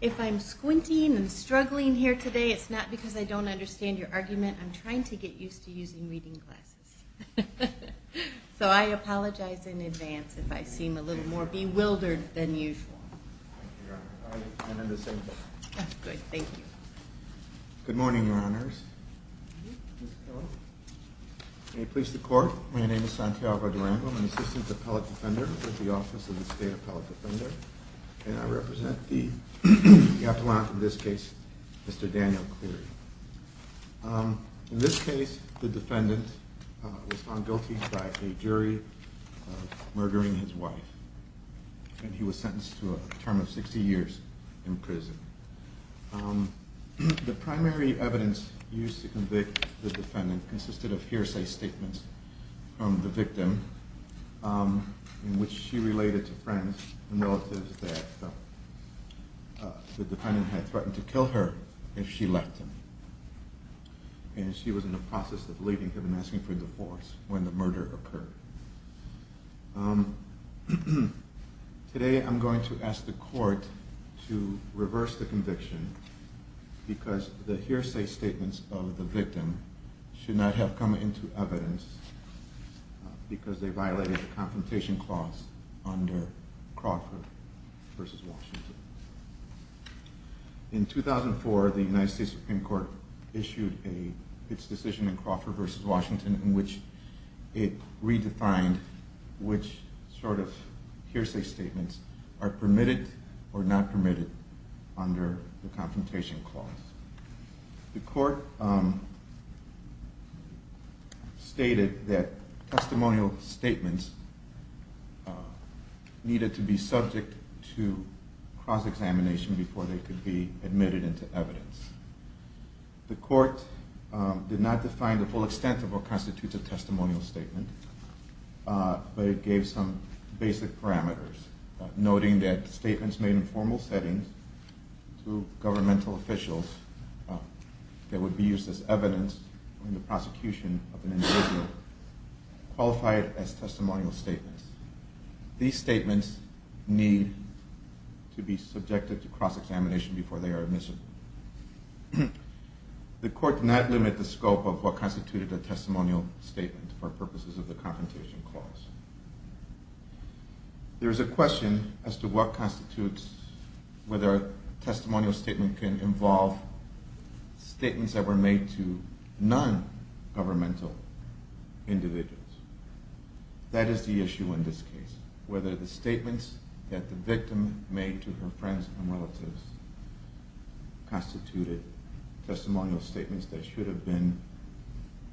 If I'm squinting and struggling here today, it's not because I don't understand your argument. I'm trying to get used to using reading glasses. So I apologize in advance if I seem a little more bewildered than usual. Good morning, Your Honor. May it please the Court, my name is Santiago Durango, an assistant appellate defender with the Office of the State Appellate Defender, and I represent the appellant in this case, Mr. Daniel Cleary. In this case, the defendant was found guilty by a jury of murdering his wife, and he was sentenced to a term of 60 years in prison. The primary evidence used to convict the defendant consisted of hearsay statements from the victim, in which she related to friends and relatives that the defendant had threatened to kill her if she left him. And she was in the process of leaving him and asking for divorce when the murder occurred. Today I'm going to ask the Court to reverse the conviction because the hearsay statements of the victim should not have come into evidence because they violated the confrontation clause under Crawford v. Washington. In 2004, the United States Supreme Court issued its decision in Crawford v. Washington in which it redefined which sort of hearsay statements are permitted or not permitted under the confrontation clause. The Court stated that testimonial statements needed to be subject to cross-examination before they could be admitted into evidence. The Court did not define the full extent of what constitutes a testimonial statement, but it gave some basic parameters, noting that statements made in formal settings to governmental officials that would be used as evidence in the prosecution of an individual qualified as testimonial statements. These statements need to be subjected to cross-examination before they are admissible. The Court did not limit the scope of what constituted a testimonial statement for purposes of the confrontation clause. There is a question as to what constitutes whether a testimonial statement can involve statements that were made to non-governmental individuals. That is the issue in this case, whether the statements that the victim made to her friends and relatives constituted testimonial statements that should have been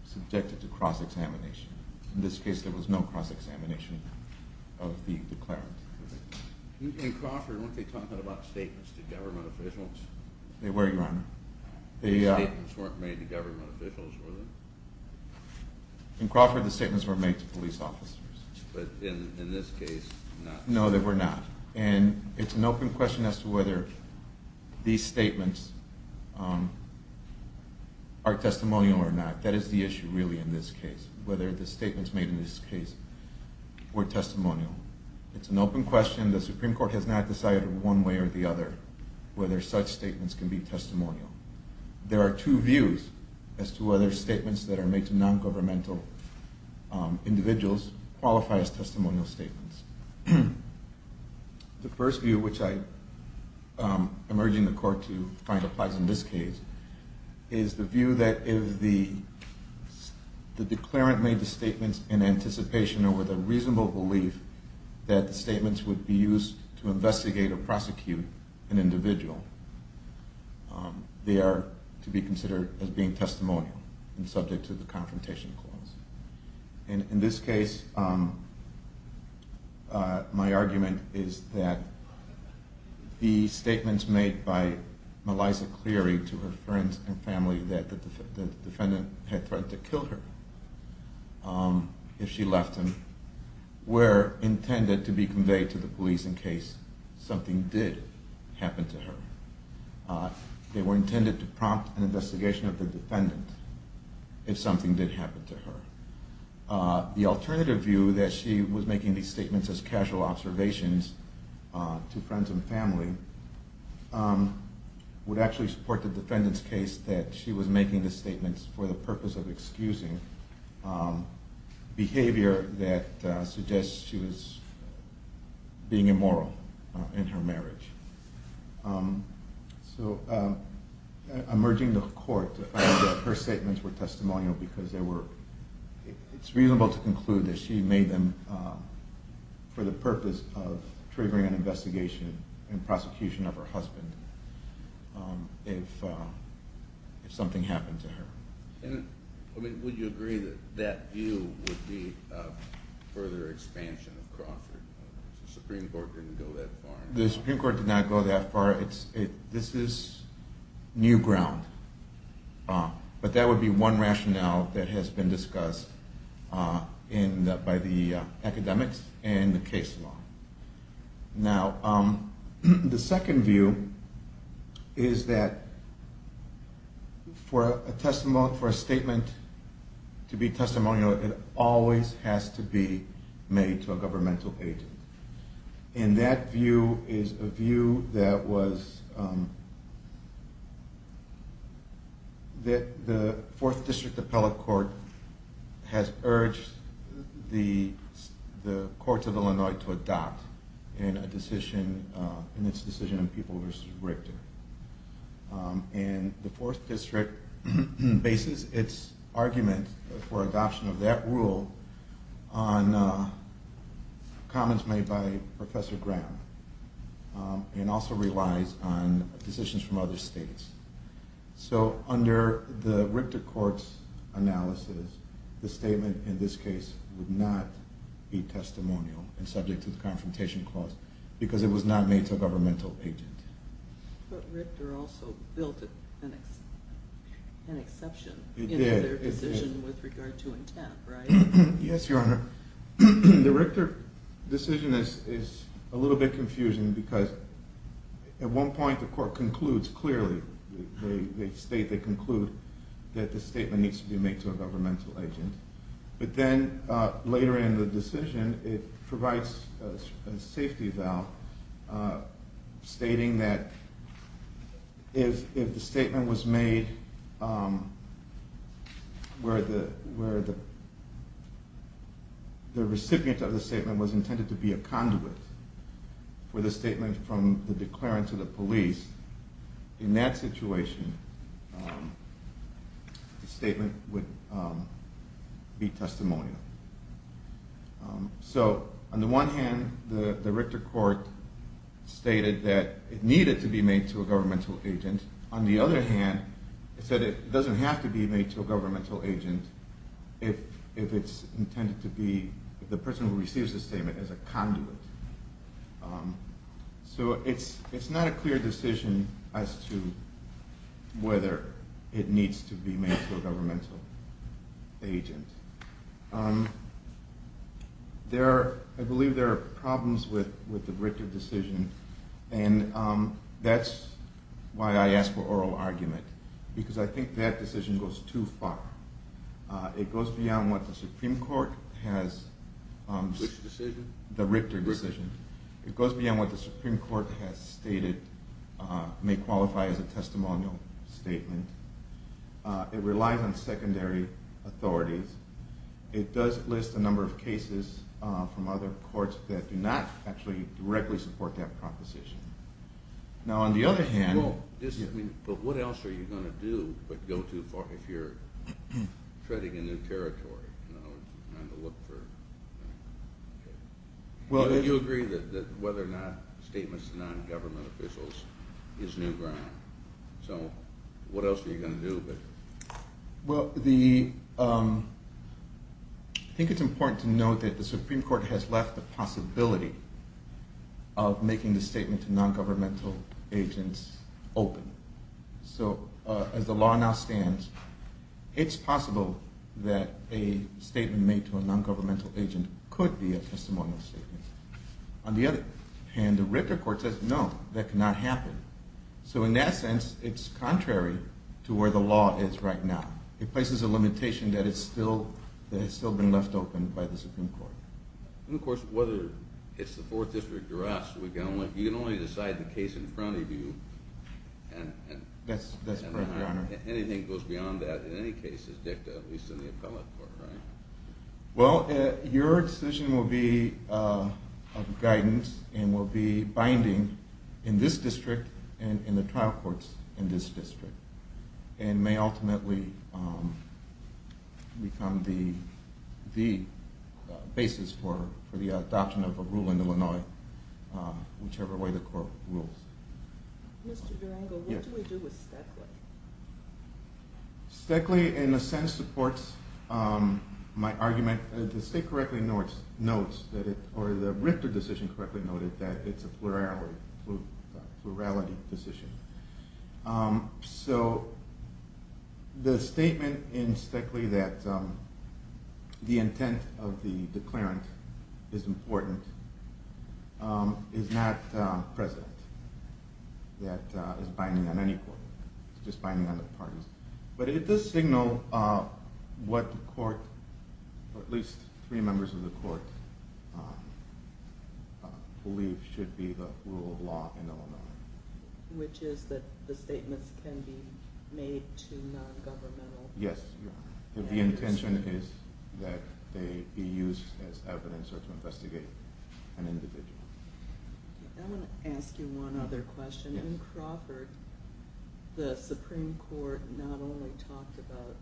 subjected to cross-examination. In this case, there was no cross-examination of the declarant. In Crawford, weren't they talking about statements to government officials? They were, Your Honor. The statements weren't made to government officials, were they? In Crawford, the statements were made to police officers. But in this case, not. And it's an open question as to whether these statements are testimonial or not. That is the issue really in this case, whether the statements made in this case were testimonial. It's an open question. The Supreme Court has not decided one way or the other whether such statements can be testimonial. There are two views as to whether statements that are made to non-governmental individuals qualify as testimonial statements. The first view, which I am urging the Court to find applies in this case, is the view that if the declarant made the statements in anticipation or with a reasonable belief that the statements would be used to investigate or prosecute an individual, they are to be considered as being testimonial and subject to the confrontation clause. In this case, my argument is that the statements made by Melissa Cleary to her friends and family that the defendant had threatened to kill her if she left him were intended to be conveyed to the police in case something did happen to her. They were intended to prompt an investigation of the defendant if something did happen to her. The alternative view that she was making these statements as casual observations to friends and family would actually support the defendant's case that she was making the statements for the purpose of excusing behavior that suggests she was being immoral in her marriage. So I am urging the Court to find that her statements were testimonial because it is reasonable to conclude that she made them for the purpose of triggering an investigation and prosecution of her husband if something happened to her. Would you agree that that view would be a further expansion of Crawford? The Supreme Court didn't go that far. This is new ground, but that would be one rationale that has been discussed by the academics and the case law. Now the second view is that for a statement to be testimonial, it always has to be made to a governmental agent. And that view is a view that the 4th district appellate court has urged the court of Illinois to adopt in its decision on people v. Richter. And the 4th district bases its argument for adoption of that rule on comments made by Professor Graham and also relies on decisions from other states. So under the Richter Court's analysis, the statement in this case would not be testimonial and subject to the confrontation clause because it was not made to a governmental agent. But Richter also built an exception in their decision with regard to intent, right? Yes, your honor. The Richter decision is a little bit confusing because at one point the court concludes clearly, they state they conclude that the statement needs to be made to a governmental agent. But then later in the decision it provides a safety valve stating that if the statement was made where the recipient of the statement was intended to be a conduit for the statement from the declarant to the police, in that situation the statement would be testimonial. So on the one hand the Richter court stated that it needed to be made to a governmental agent. On the other hand, it said it doesn't have to be made to a governmental agent if it's intended to be the person who receives the statement as a conduit. So it's not a clear decision as to whether it needs to be made to a governmental agent. I believe there are problems with the Richter decision and that's why I ask for oral argument because I think that decision goes too far. It goes beyond what the Supreme Court has stated may qualify as a testimonial statement. It relies on secondary authorities. It does list a number of cases from other courts that do not actually directly support that proposition. But what else are you going to do but go too far if you're treading a new territory? Do you agree that whether or not statements to non-government officials is new ground? I think it's important to note that the Supreme Court has left the possibility of making the statement to non-governmental agents open. So as the law now stands, it's possible that a statement made to a non-governmental agent could be a testimonial statement. On the other hand, the Richter Court says no, that cannot happen. So in that sense, it's contrary to where the law is right now. It places a limitation that has still been left open by the Supreme Court. And of course, whether it's the 4th District or us, you can only decide the case in front of you and anything goes beyond that in any case is dicta, at least in the appellate court, right? Well, your decision will be of guidance and will be binding in this district and in the trial courts in this district and may ultimately become the basis for the adoption of a rule in Illinois, whichever way the court rules. Mr. Durango, what do we do with Stoeckle? Stoeckle in a sense supports my argument. The state correctly notes, or the Richter decision correctly noted that it's a plurality decision. So the statement in Stoeckle that the intent of the declarant is important is not present. That is binding on any court. It's just binding on the parties. But it does signal what the court, or at least three members of the court, believe should be the rule of law in Illinois. Which is that the statements can be made to non-governmental… Yes, the intention is that they be used as evidence or to investigate an individual. I'm going to ask you one other question. In Crawford, the Supreme Court not only talked about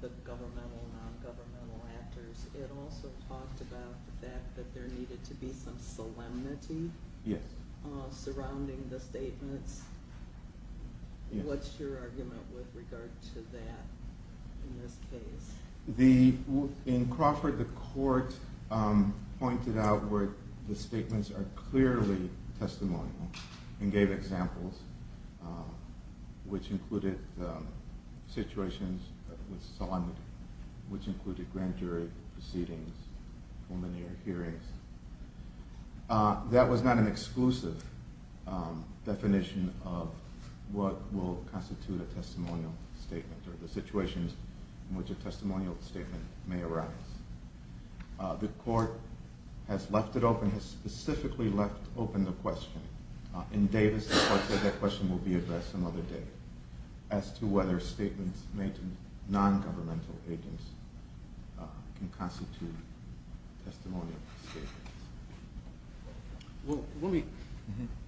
the governmental and non-governmental actors, it also talked about the fact that there needed to be some solemnity surrounding the statements. What's your argument with regard to that in this case? In Crawford, the court pointed out where the statements are clearly testimonial and gave examples, which included situations with solemnity, which included grand jury proceedings, culminating in hearings. That was not an exclusive definition of what will constitute a testimonial statement or the situations in which a testimonial statement may arise. The court has left it open, has specifically left open the question. In Davis, the court said that question will be addressed some other day as to whether statements made to non-governmental agents can constitute testimonial statements.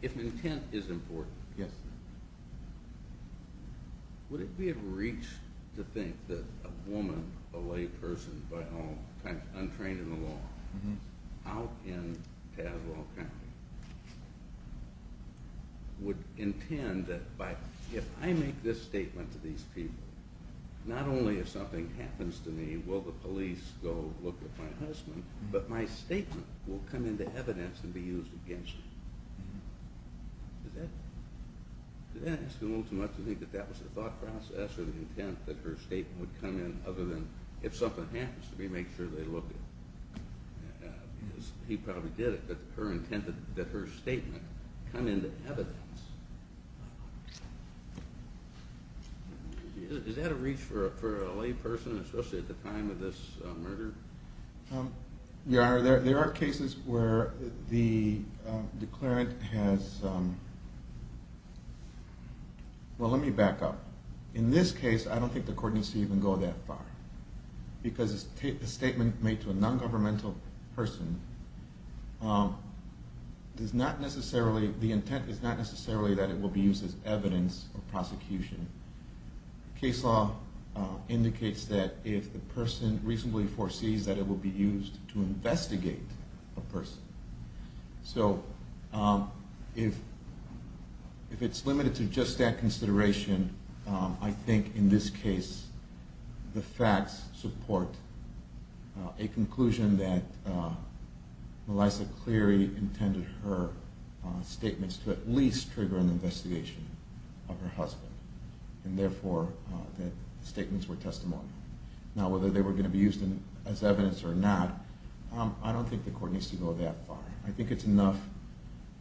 If intent is important, would it be of reach to think that a woman, a lay person by all accounts, untrained in the law, out in Tazewell County, would intend that if I make this statement to these people, not only if something happens to me will the police go look at my husband, but my statement will come into evidence and be used against me? Did I ask a little too much to think that that was the thought process or the intent that her statement would come in other than if something happens to me, make sure they look at me? Because he probably did it, but her intent that her statement come into evidence. Is that a reach for a lay person, especially at the time of this murder? Your honor, there are cases where the declarant has, well let me back up. In this case, I don't think the court needs to even go that far. Because a statement made to a non-governmental person does not necessarily, the intent is not necessarily that it will be used as evidence for prosecution. Case law indicates that if the person reasonably foresees that it will be used to investigate a person. So if it's limited to just that consideration, I think in this case the facts support a conclusion that Melissa Cleary intended her statements to at least trigger an investigation of her husband. And therefore, the statements were testimonial. Now whether they were going to be used as evidence or not, I don't think the court needs to go that far. I think it's enough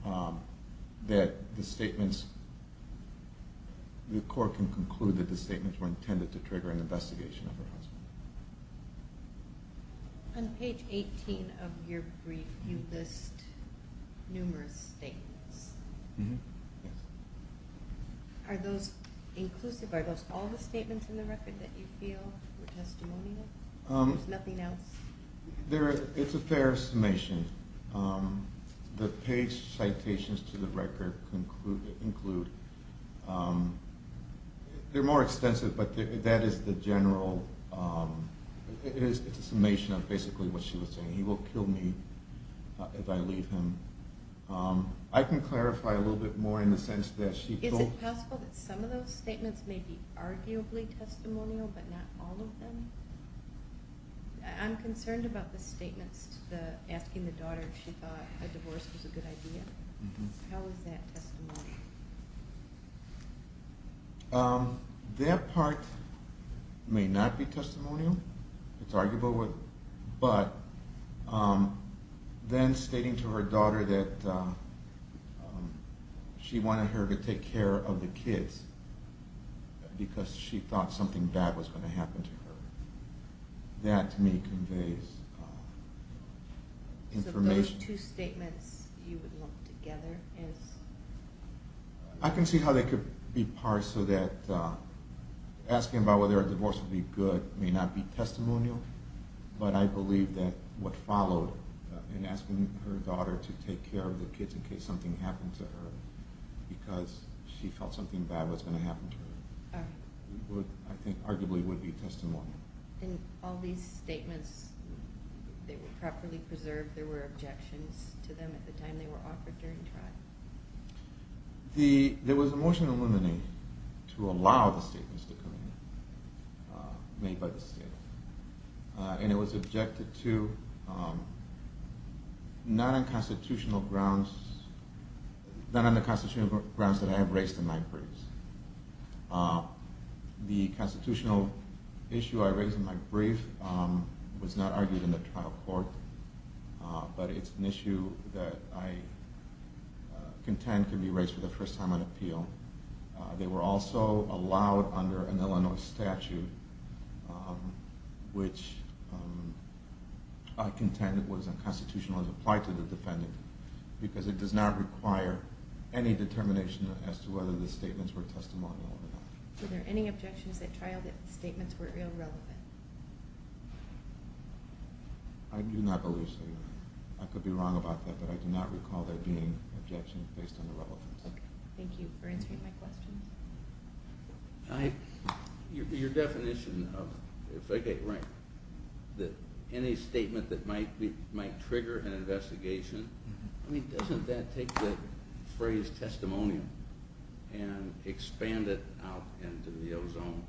that the statements, the court can conclude that the statements were intended to trigger an investigation of her husband. On page 18 of your brief, you list numerous statements. Are those inclusive? Are those all the statements in the record that you feel were testimonial? It's a fair summation. The page citations to the record include, they're more extensive, but that is the general, it's a summation of basically what she was saying. He will kill me if I leave him. I can clarify a little bit more in the sense that she- Is it possible that some of those statements may be arguably testimonial, but not all of them? I'm concerned about the statements asking the daughter if she thought a divorce was a good idea. How is that testimonial? That part may not be testimonial. It's arguable, but then stating to her daughter that she wanted her to take care of the kids because she thought something bad was going to happen to her, that to me conveys information. So those two statements you would lump together? I can see how they could be parsed so that asking about whether a divorce would be good may not be testimonial, but I believe that what followed in asking her daughter to take care of the kids in case something happened to her because she felt something bad was going to happen to her, I think arguably would be testimonial. In all these statements, they were properly preserved, there were objections to them at the time they were offered during trial? There was a motion to allow the statements to come in made by the state and it was objected to not on the constitutional grounds that I have raised in my briefs. The constitutional issue I raised in my brief was not argued in the trial court, but it's an issue that I contend can be raised for the first time on appeal. They were also allowed under an Illinois statute which I contend was unconstitutional as applied to the defendant because it does not require any determination as to whether the statements were testimonial or not. Were there any objections at trial that the statements were irrelevant? I do not believe so. I could be wrong about that, but I do not recall there being objections based on relevance. Thank you for answering my questions. Your definition of any statement that might trigger an investigation, doesn't that take the phrase testimonial and expand it out into the ozone?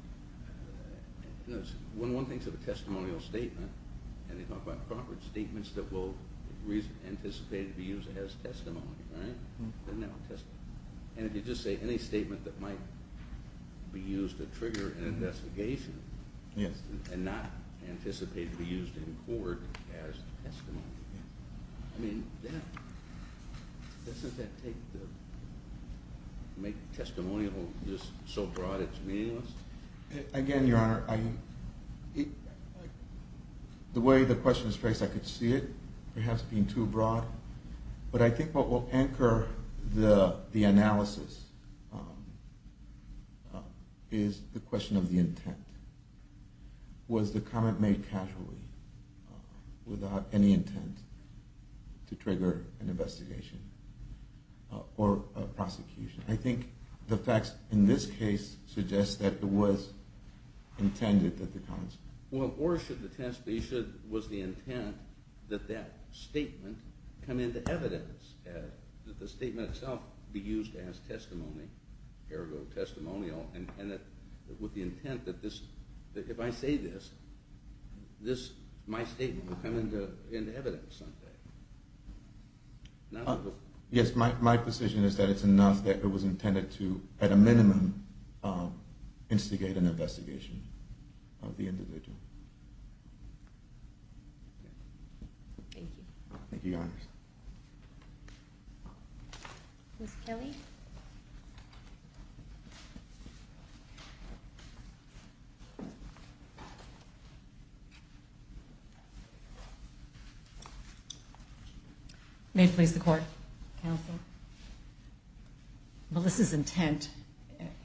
When one thinks of a testimonial statement and they talk about proper statements that will be anticipated to be used as testimony, right? And if you just say any statement that might be used to trigger an investigation and not anticipated to be used in court as testimony, I mean, doesn't that make testimonial just so broad it's meaningless? Again, Your Honor, the way the question is phrased I could see it perhaps being too broad, but I think what will anchor the analysis is the question of the intent. Was the comment made casually without any intent to trigger an investigation or prosecution? I think the facts in this case suggest that it was intended that the comments were made. Well, or was the intent that that statement come into evidence, that the statement itself be used as testimony, ergo testimonial, and that with the intent that if I say this, my statement will come into evidence someday? Yes, my position is that it's enough that it was intended to, at a minimum, instigate an investigation of the individual. Thank you. Thank you, Your Honor. Ms. Kelly? May it please the Court, counsel? Melissa's intent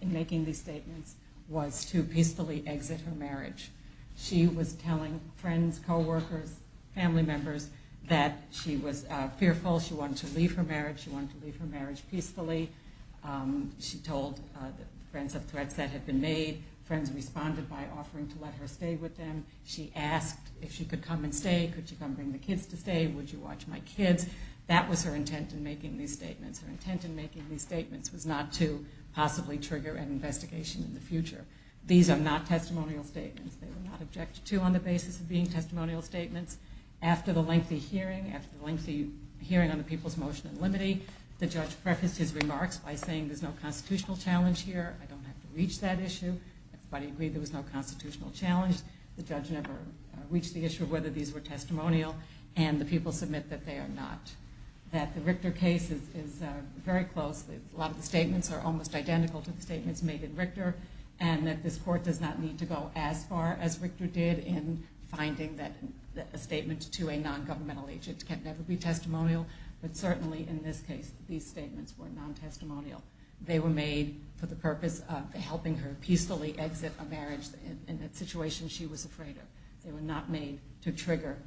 in making these statements was to peacefully exit her marriage. She was telling friends, coworkers, family members that she was fearful, she wanted to leave her marriage, she wanted to leave her marriage peacefully. She told friends of threats that had been made. Friends responded by offering to let her stay with them. She asked if she could come and stay, could she come bring the kids to stay, would you watch my kids? That was her intent in making these statements. Her intent in making these statements was not to possibly trigger an investigation in the future. These are not testimonial statements. They were not objected to on the basis of being testimonial statements. After the lengthy hearing, after the lengthy hearing on the People's Motion and Limiting, the judge prefaced his remarks by saying there's no constitutional challenge here, I don't have to reach that issue. Everybody agreed there was no constitutional challenge. The judge never reached the issue of whether these were testimonial. And the people submit that they are not. That the Richter case is very close. A lot of the statements are almost identical to the statements made in Richter. And that this Court does not need to go as far as Richter did in finding that a statement to a non-governmental agent can never be testimonial. But certainly in this case, these statements were non-testimonial. They were made for the purpose of helping her peacefully exit a marriage in a situation she was afraid of. They were not made to trigger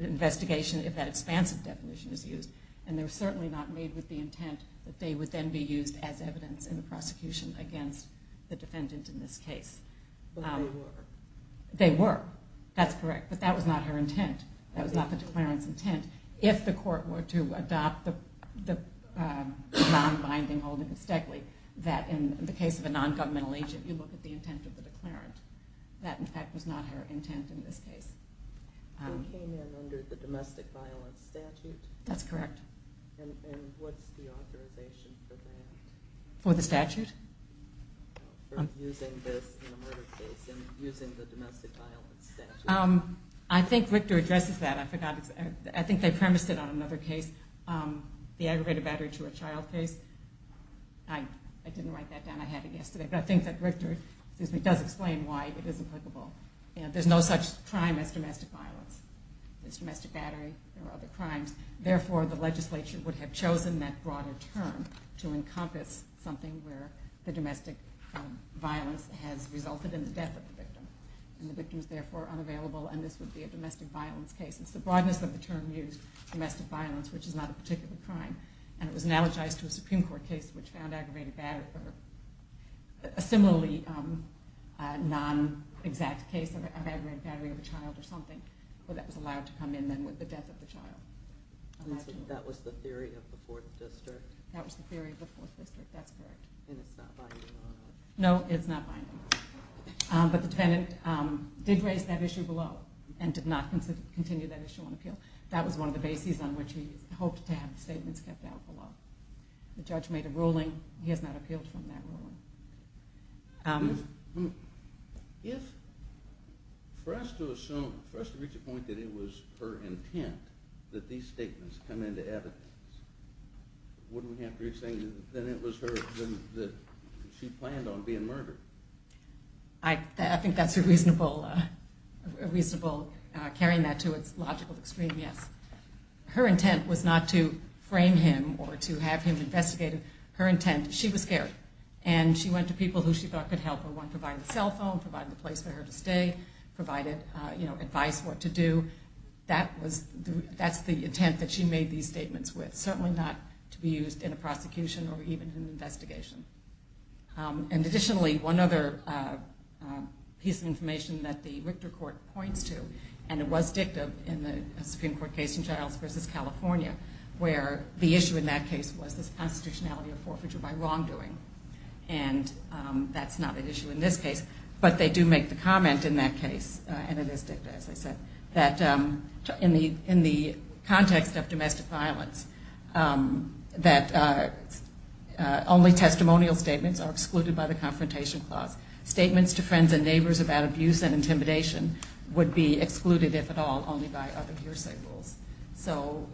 an investigation if that expansive definition is used. And they were certainly not made with the intent that they would then be used as evidence in the prosecution against the defendant in this case. But they were. They were. That's correct. That was not the declarant's intent. And if the Court were to adopt the non-binding holding of Stegley, that in the case of a non-governmental agent, you look at the intent of the declarant. That, in fact, was not her intent in this case. That's correct. For the statute? For using this in a murder case and using the domestic violence statute? I think Richter addresses that. I think they premised it on another case, the aggregated battery to a child case. I didn't write that down. I had it yesterday. But I think that Richter does explain why it is applicable. There's no such crime as domestic violence. There's domestic battery. There are other crimes. Therefore, the legislature would have chosen that broader term to encompass something where the domestic violence has resulted in the death of the victim. And the victim is, therefore, unavailable. And this would be a domestic violence case. It's the broadness of the term used, domestic violence, which is not a particular crime. And it was analogized to a Supreme Court case which found aggravated battery or a similarly non-exact case of aggravated battery of a child or something. Well, that was allowed to come in then with the death of the child. That was the theory of the 4th District? That was the theory of the 4th District. That's correct. And it's not binding on that? No, it's not binding. But the defendant did raise that issue below and did not continue that issue on appeal. That was one of the bases on which he hoped to have the statements kept out below. The judge made a ruling. He has not appealed from that ruling. If, for us to assume, for us to reach a point that it was her intent that these statements come into evidence, wouldn't we have to be saying that it was her, that she planned on being murdered? I think that's a reasonable, a reasonable carrying that to its logical extreme, yes. Her intent was not to frame him or to have him investigated. Her intent, she was scared, and she went to people who she thought could help her. One provided a cell phone, provided a place for her to stay, provided advice what to do. That's the intent that she made these statements with, certainly not to be used in a prosecution or even in an investigation. And additionally, one other piece of information that the Richter Court points to, and it was dicta in the Supreme Court case in Giles v. California, where the issue in that case was this constitutionality of forfeiture by wrongdoing. And that's not an issue in this case, but they do make the comment in that case, and it is dicta, as I said, that in the context of domestic violence, that only testimonial statements are excluded by the Confrontation Clause. Statements to friends and neighbors about abuse and intimidation would be excluded, if at all, only by other hearsay rules. So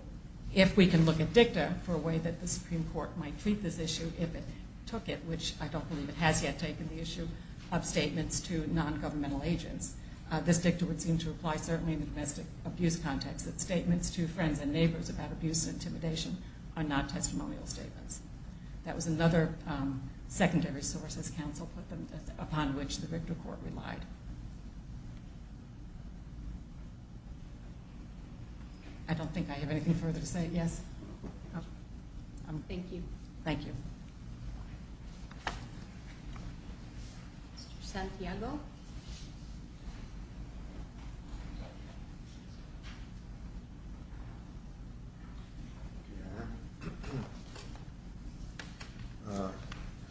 if we can look at dicta for a way that the Supreme Court might treat this issue if it took it, which I don't believe it has yet taken the issue of statements to non-governmental agents, this dicta would seem to apply certainly in the domestic abuse context, that statements to friends and neighbors about abuse and intimidation are not testimonial statements. That was another secondary source, as counsel put them, upon which the Richter Court relied. I don't think I have anything further to say. Yes? Thank you. Thank you. Mr. Santiago? A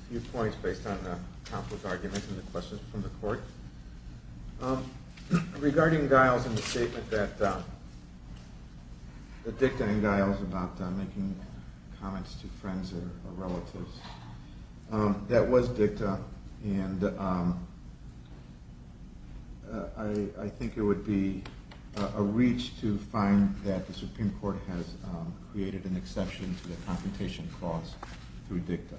few points based on the conflict argument and the questions from the Court. Regarding Giles and the statement that dicta and Giles about making comments to friends or relatives, that was dicta and I think it would be a reach to find that the Supreme Court has created an exception to the Confrontation Clause through dicta.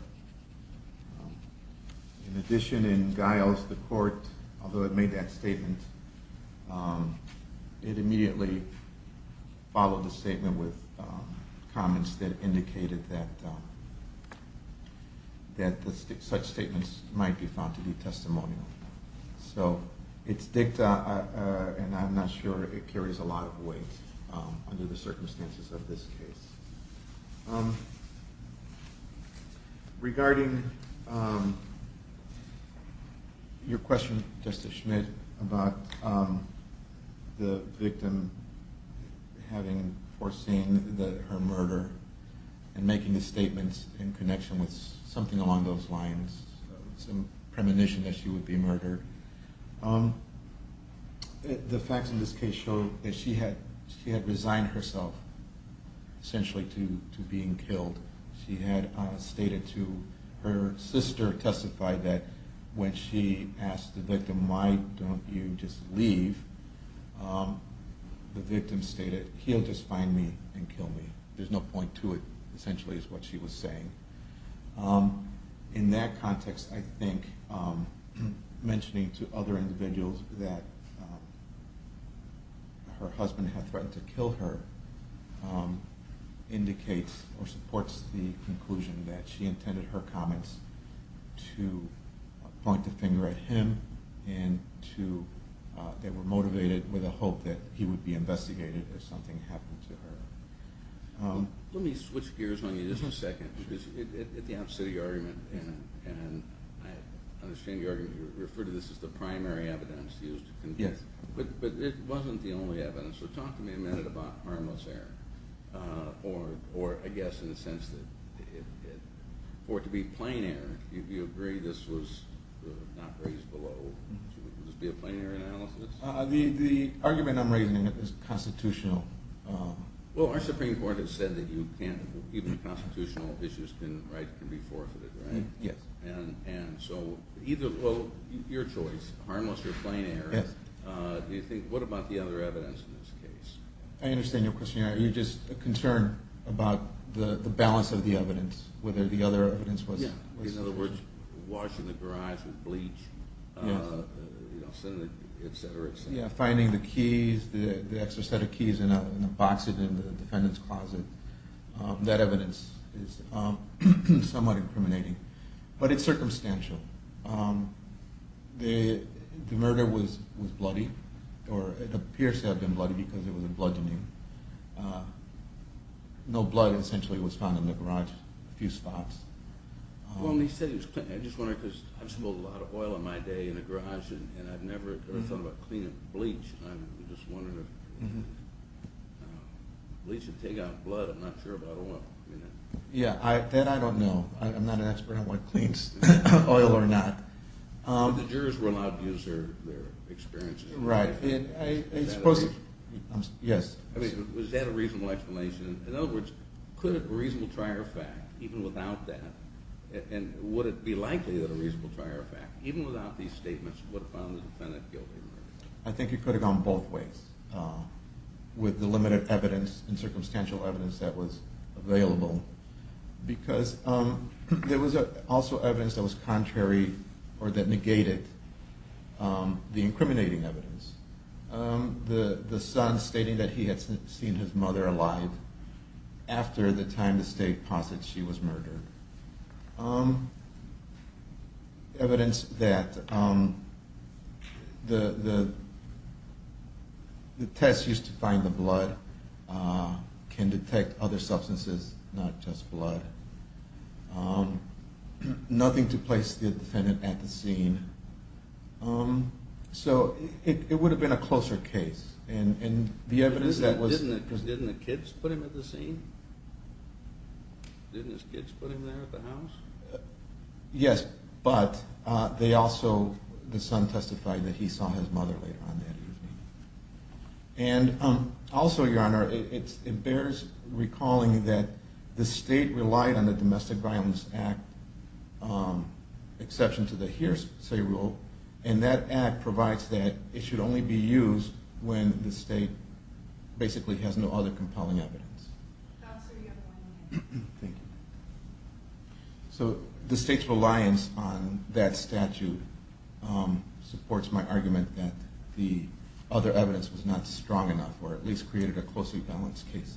In addition, in Giles, the Court, although it made that statement, it immediately followed the statement with comments that indicated that such statements might be found to be testimonial. So it's dicta and I'm not sure it carries a lot of weight under the circumstances of this case. Regarding your question, Justice Schmidt, about the victim having foreseen her murder and making the statements in connection with something along those lines, some premonition that she would be murdered, the facts of this case show that she had resigned herself essentially to being killed. She had stated to her sister, testified that when she asked the victim, why don't you just leave, the victim stated, he'll just find me and kill me. There's no point to it essentially is what she was saying. In that context, I think mentioning to other individuals that her husband had threatened to kill her indicates or supports the conclusion that she intended her comments to point the finger at him and they were motivated with a hope that he would be investigated if something happened to her. Let me switch gears on you just a second. At the opposite of your argument, and I understand your argument, you refer to this as the primary evidence used to convince, but it wasn't the only evidence. So talk to me a minute about harmless error or I guess in the sense that for it to be plain error, if you agree this was not raised below, would this be a plain error analysis? The argument I'm raising is constitutional. Well, our Supreme Court has said that even constitutional issues can be forfeited, right? Yes. And so either, well, your choice, harmless or plain error, do you think, what about the other evidence in this case? I understand your question. Are you just concerned about the balance of the evidence, whether the other evidence was? In other words, washing the garage with bleach, et cetera, et cetera. Yeah, finding the keys, the extra set of keys in a box in the defendant's closet, that evidence is somewhat incriminating. But it's circumstantial. The murder was bloody, or it appears to have been bloody because it was a blood dengue. No blood essentially was found in the garage, a few spots. Well, when you say it was clean, I just wondered because I've smoked a lot of oil in my day in the garage and I've never thought about cleaning bleach. I'm just wondering if bleach would take out blood. I'm not sure about oil. Yeah, that I don't know. I'm not an expert on what cleans oil or not. But the jurors were allowed to use their experiences. Right. Was that a reasonable explanation? Yes. I mean, was that a reasonable explanation? In other words, could a reasonable trier of fact, even without that, and would it be likely that a reasonable trier of fact, even without these statements, would have found the defendant guilty of murder? I think it could have gone both ways with the limited evidence and circumstantial evidence that was available because there was also evidence that was contrary or that negated the incriminating evidence. The son stating that he had seen his mother alive after the time the state posits she was murdered. Evidence that the test used to find the blood can detect other substances, not just blood. Nothing to place the defendant at the scene. So it would have been a closer case. And the evidence that was... Didn't the kids put him at the scene? Didn't his kids put him there at the house? Yes. But they also... The son testified that he saw his mother later on that evening. And also, Your Honor, it bears recalling that the state relied on the Domestic Violence Act, exception to the hearsay rule, and that act provides that it should only be used when the state basically has no other compelling evidence. So the state's reliance on that statute supports my argument that the other evidence was not strong enough or at least created a closely balanced case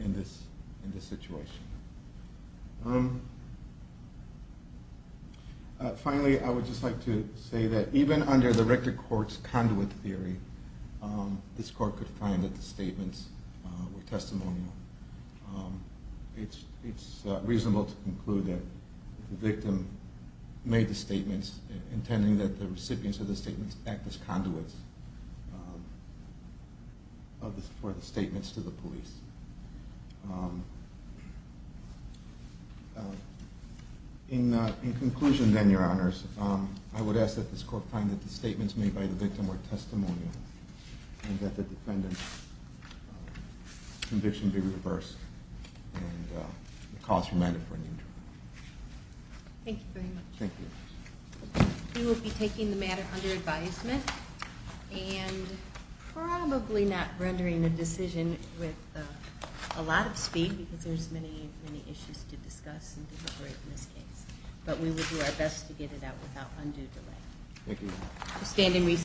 in this situation. Finally, I would just like to say that even under the Rector Court's conduit theory, this Court could find that the statements were testimonial. It's reasonable to conclude that the victim made the statements intending that the recipients of the statements act as conduits for the statements to the police. In conclusion then, Your Honors, I would ask that this Court find that the statements made by the victim were testimonial and that the defendant's conviction be reversed and the cause remanded for an interrogation. Thank you very much. Thank you. We will be taking the matter under advisement and probably not rendering a decision with a lot of speed because there's many, many issues to discuss and deliberate in this case. But we will do our best to get it out without undue delay. Thank you.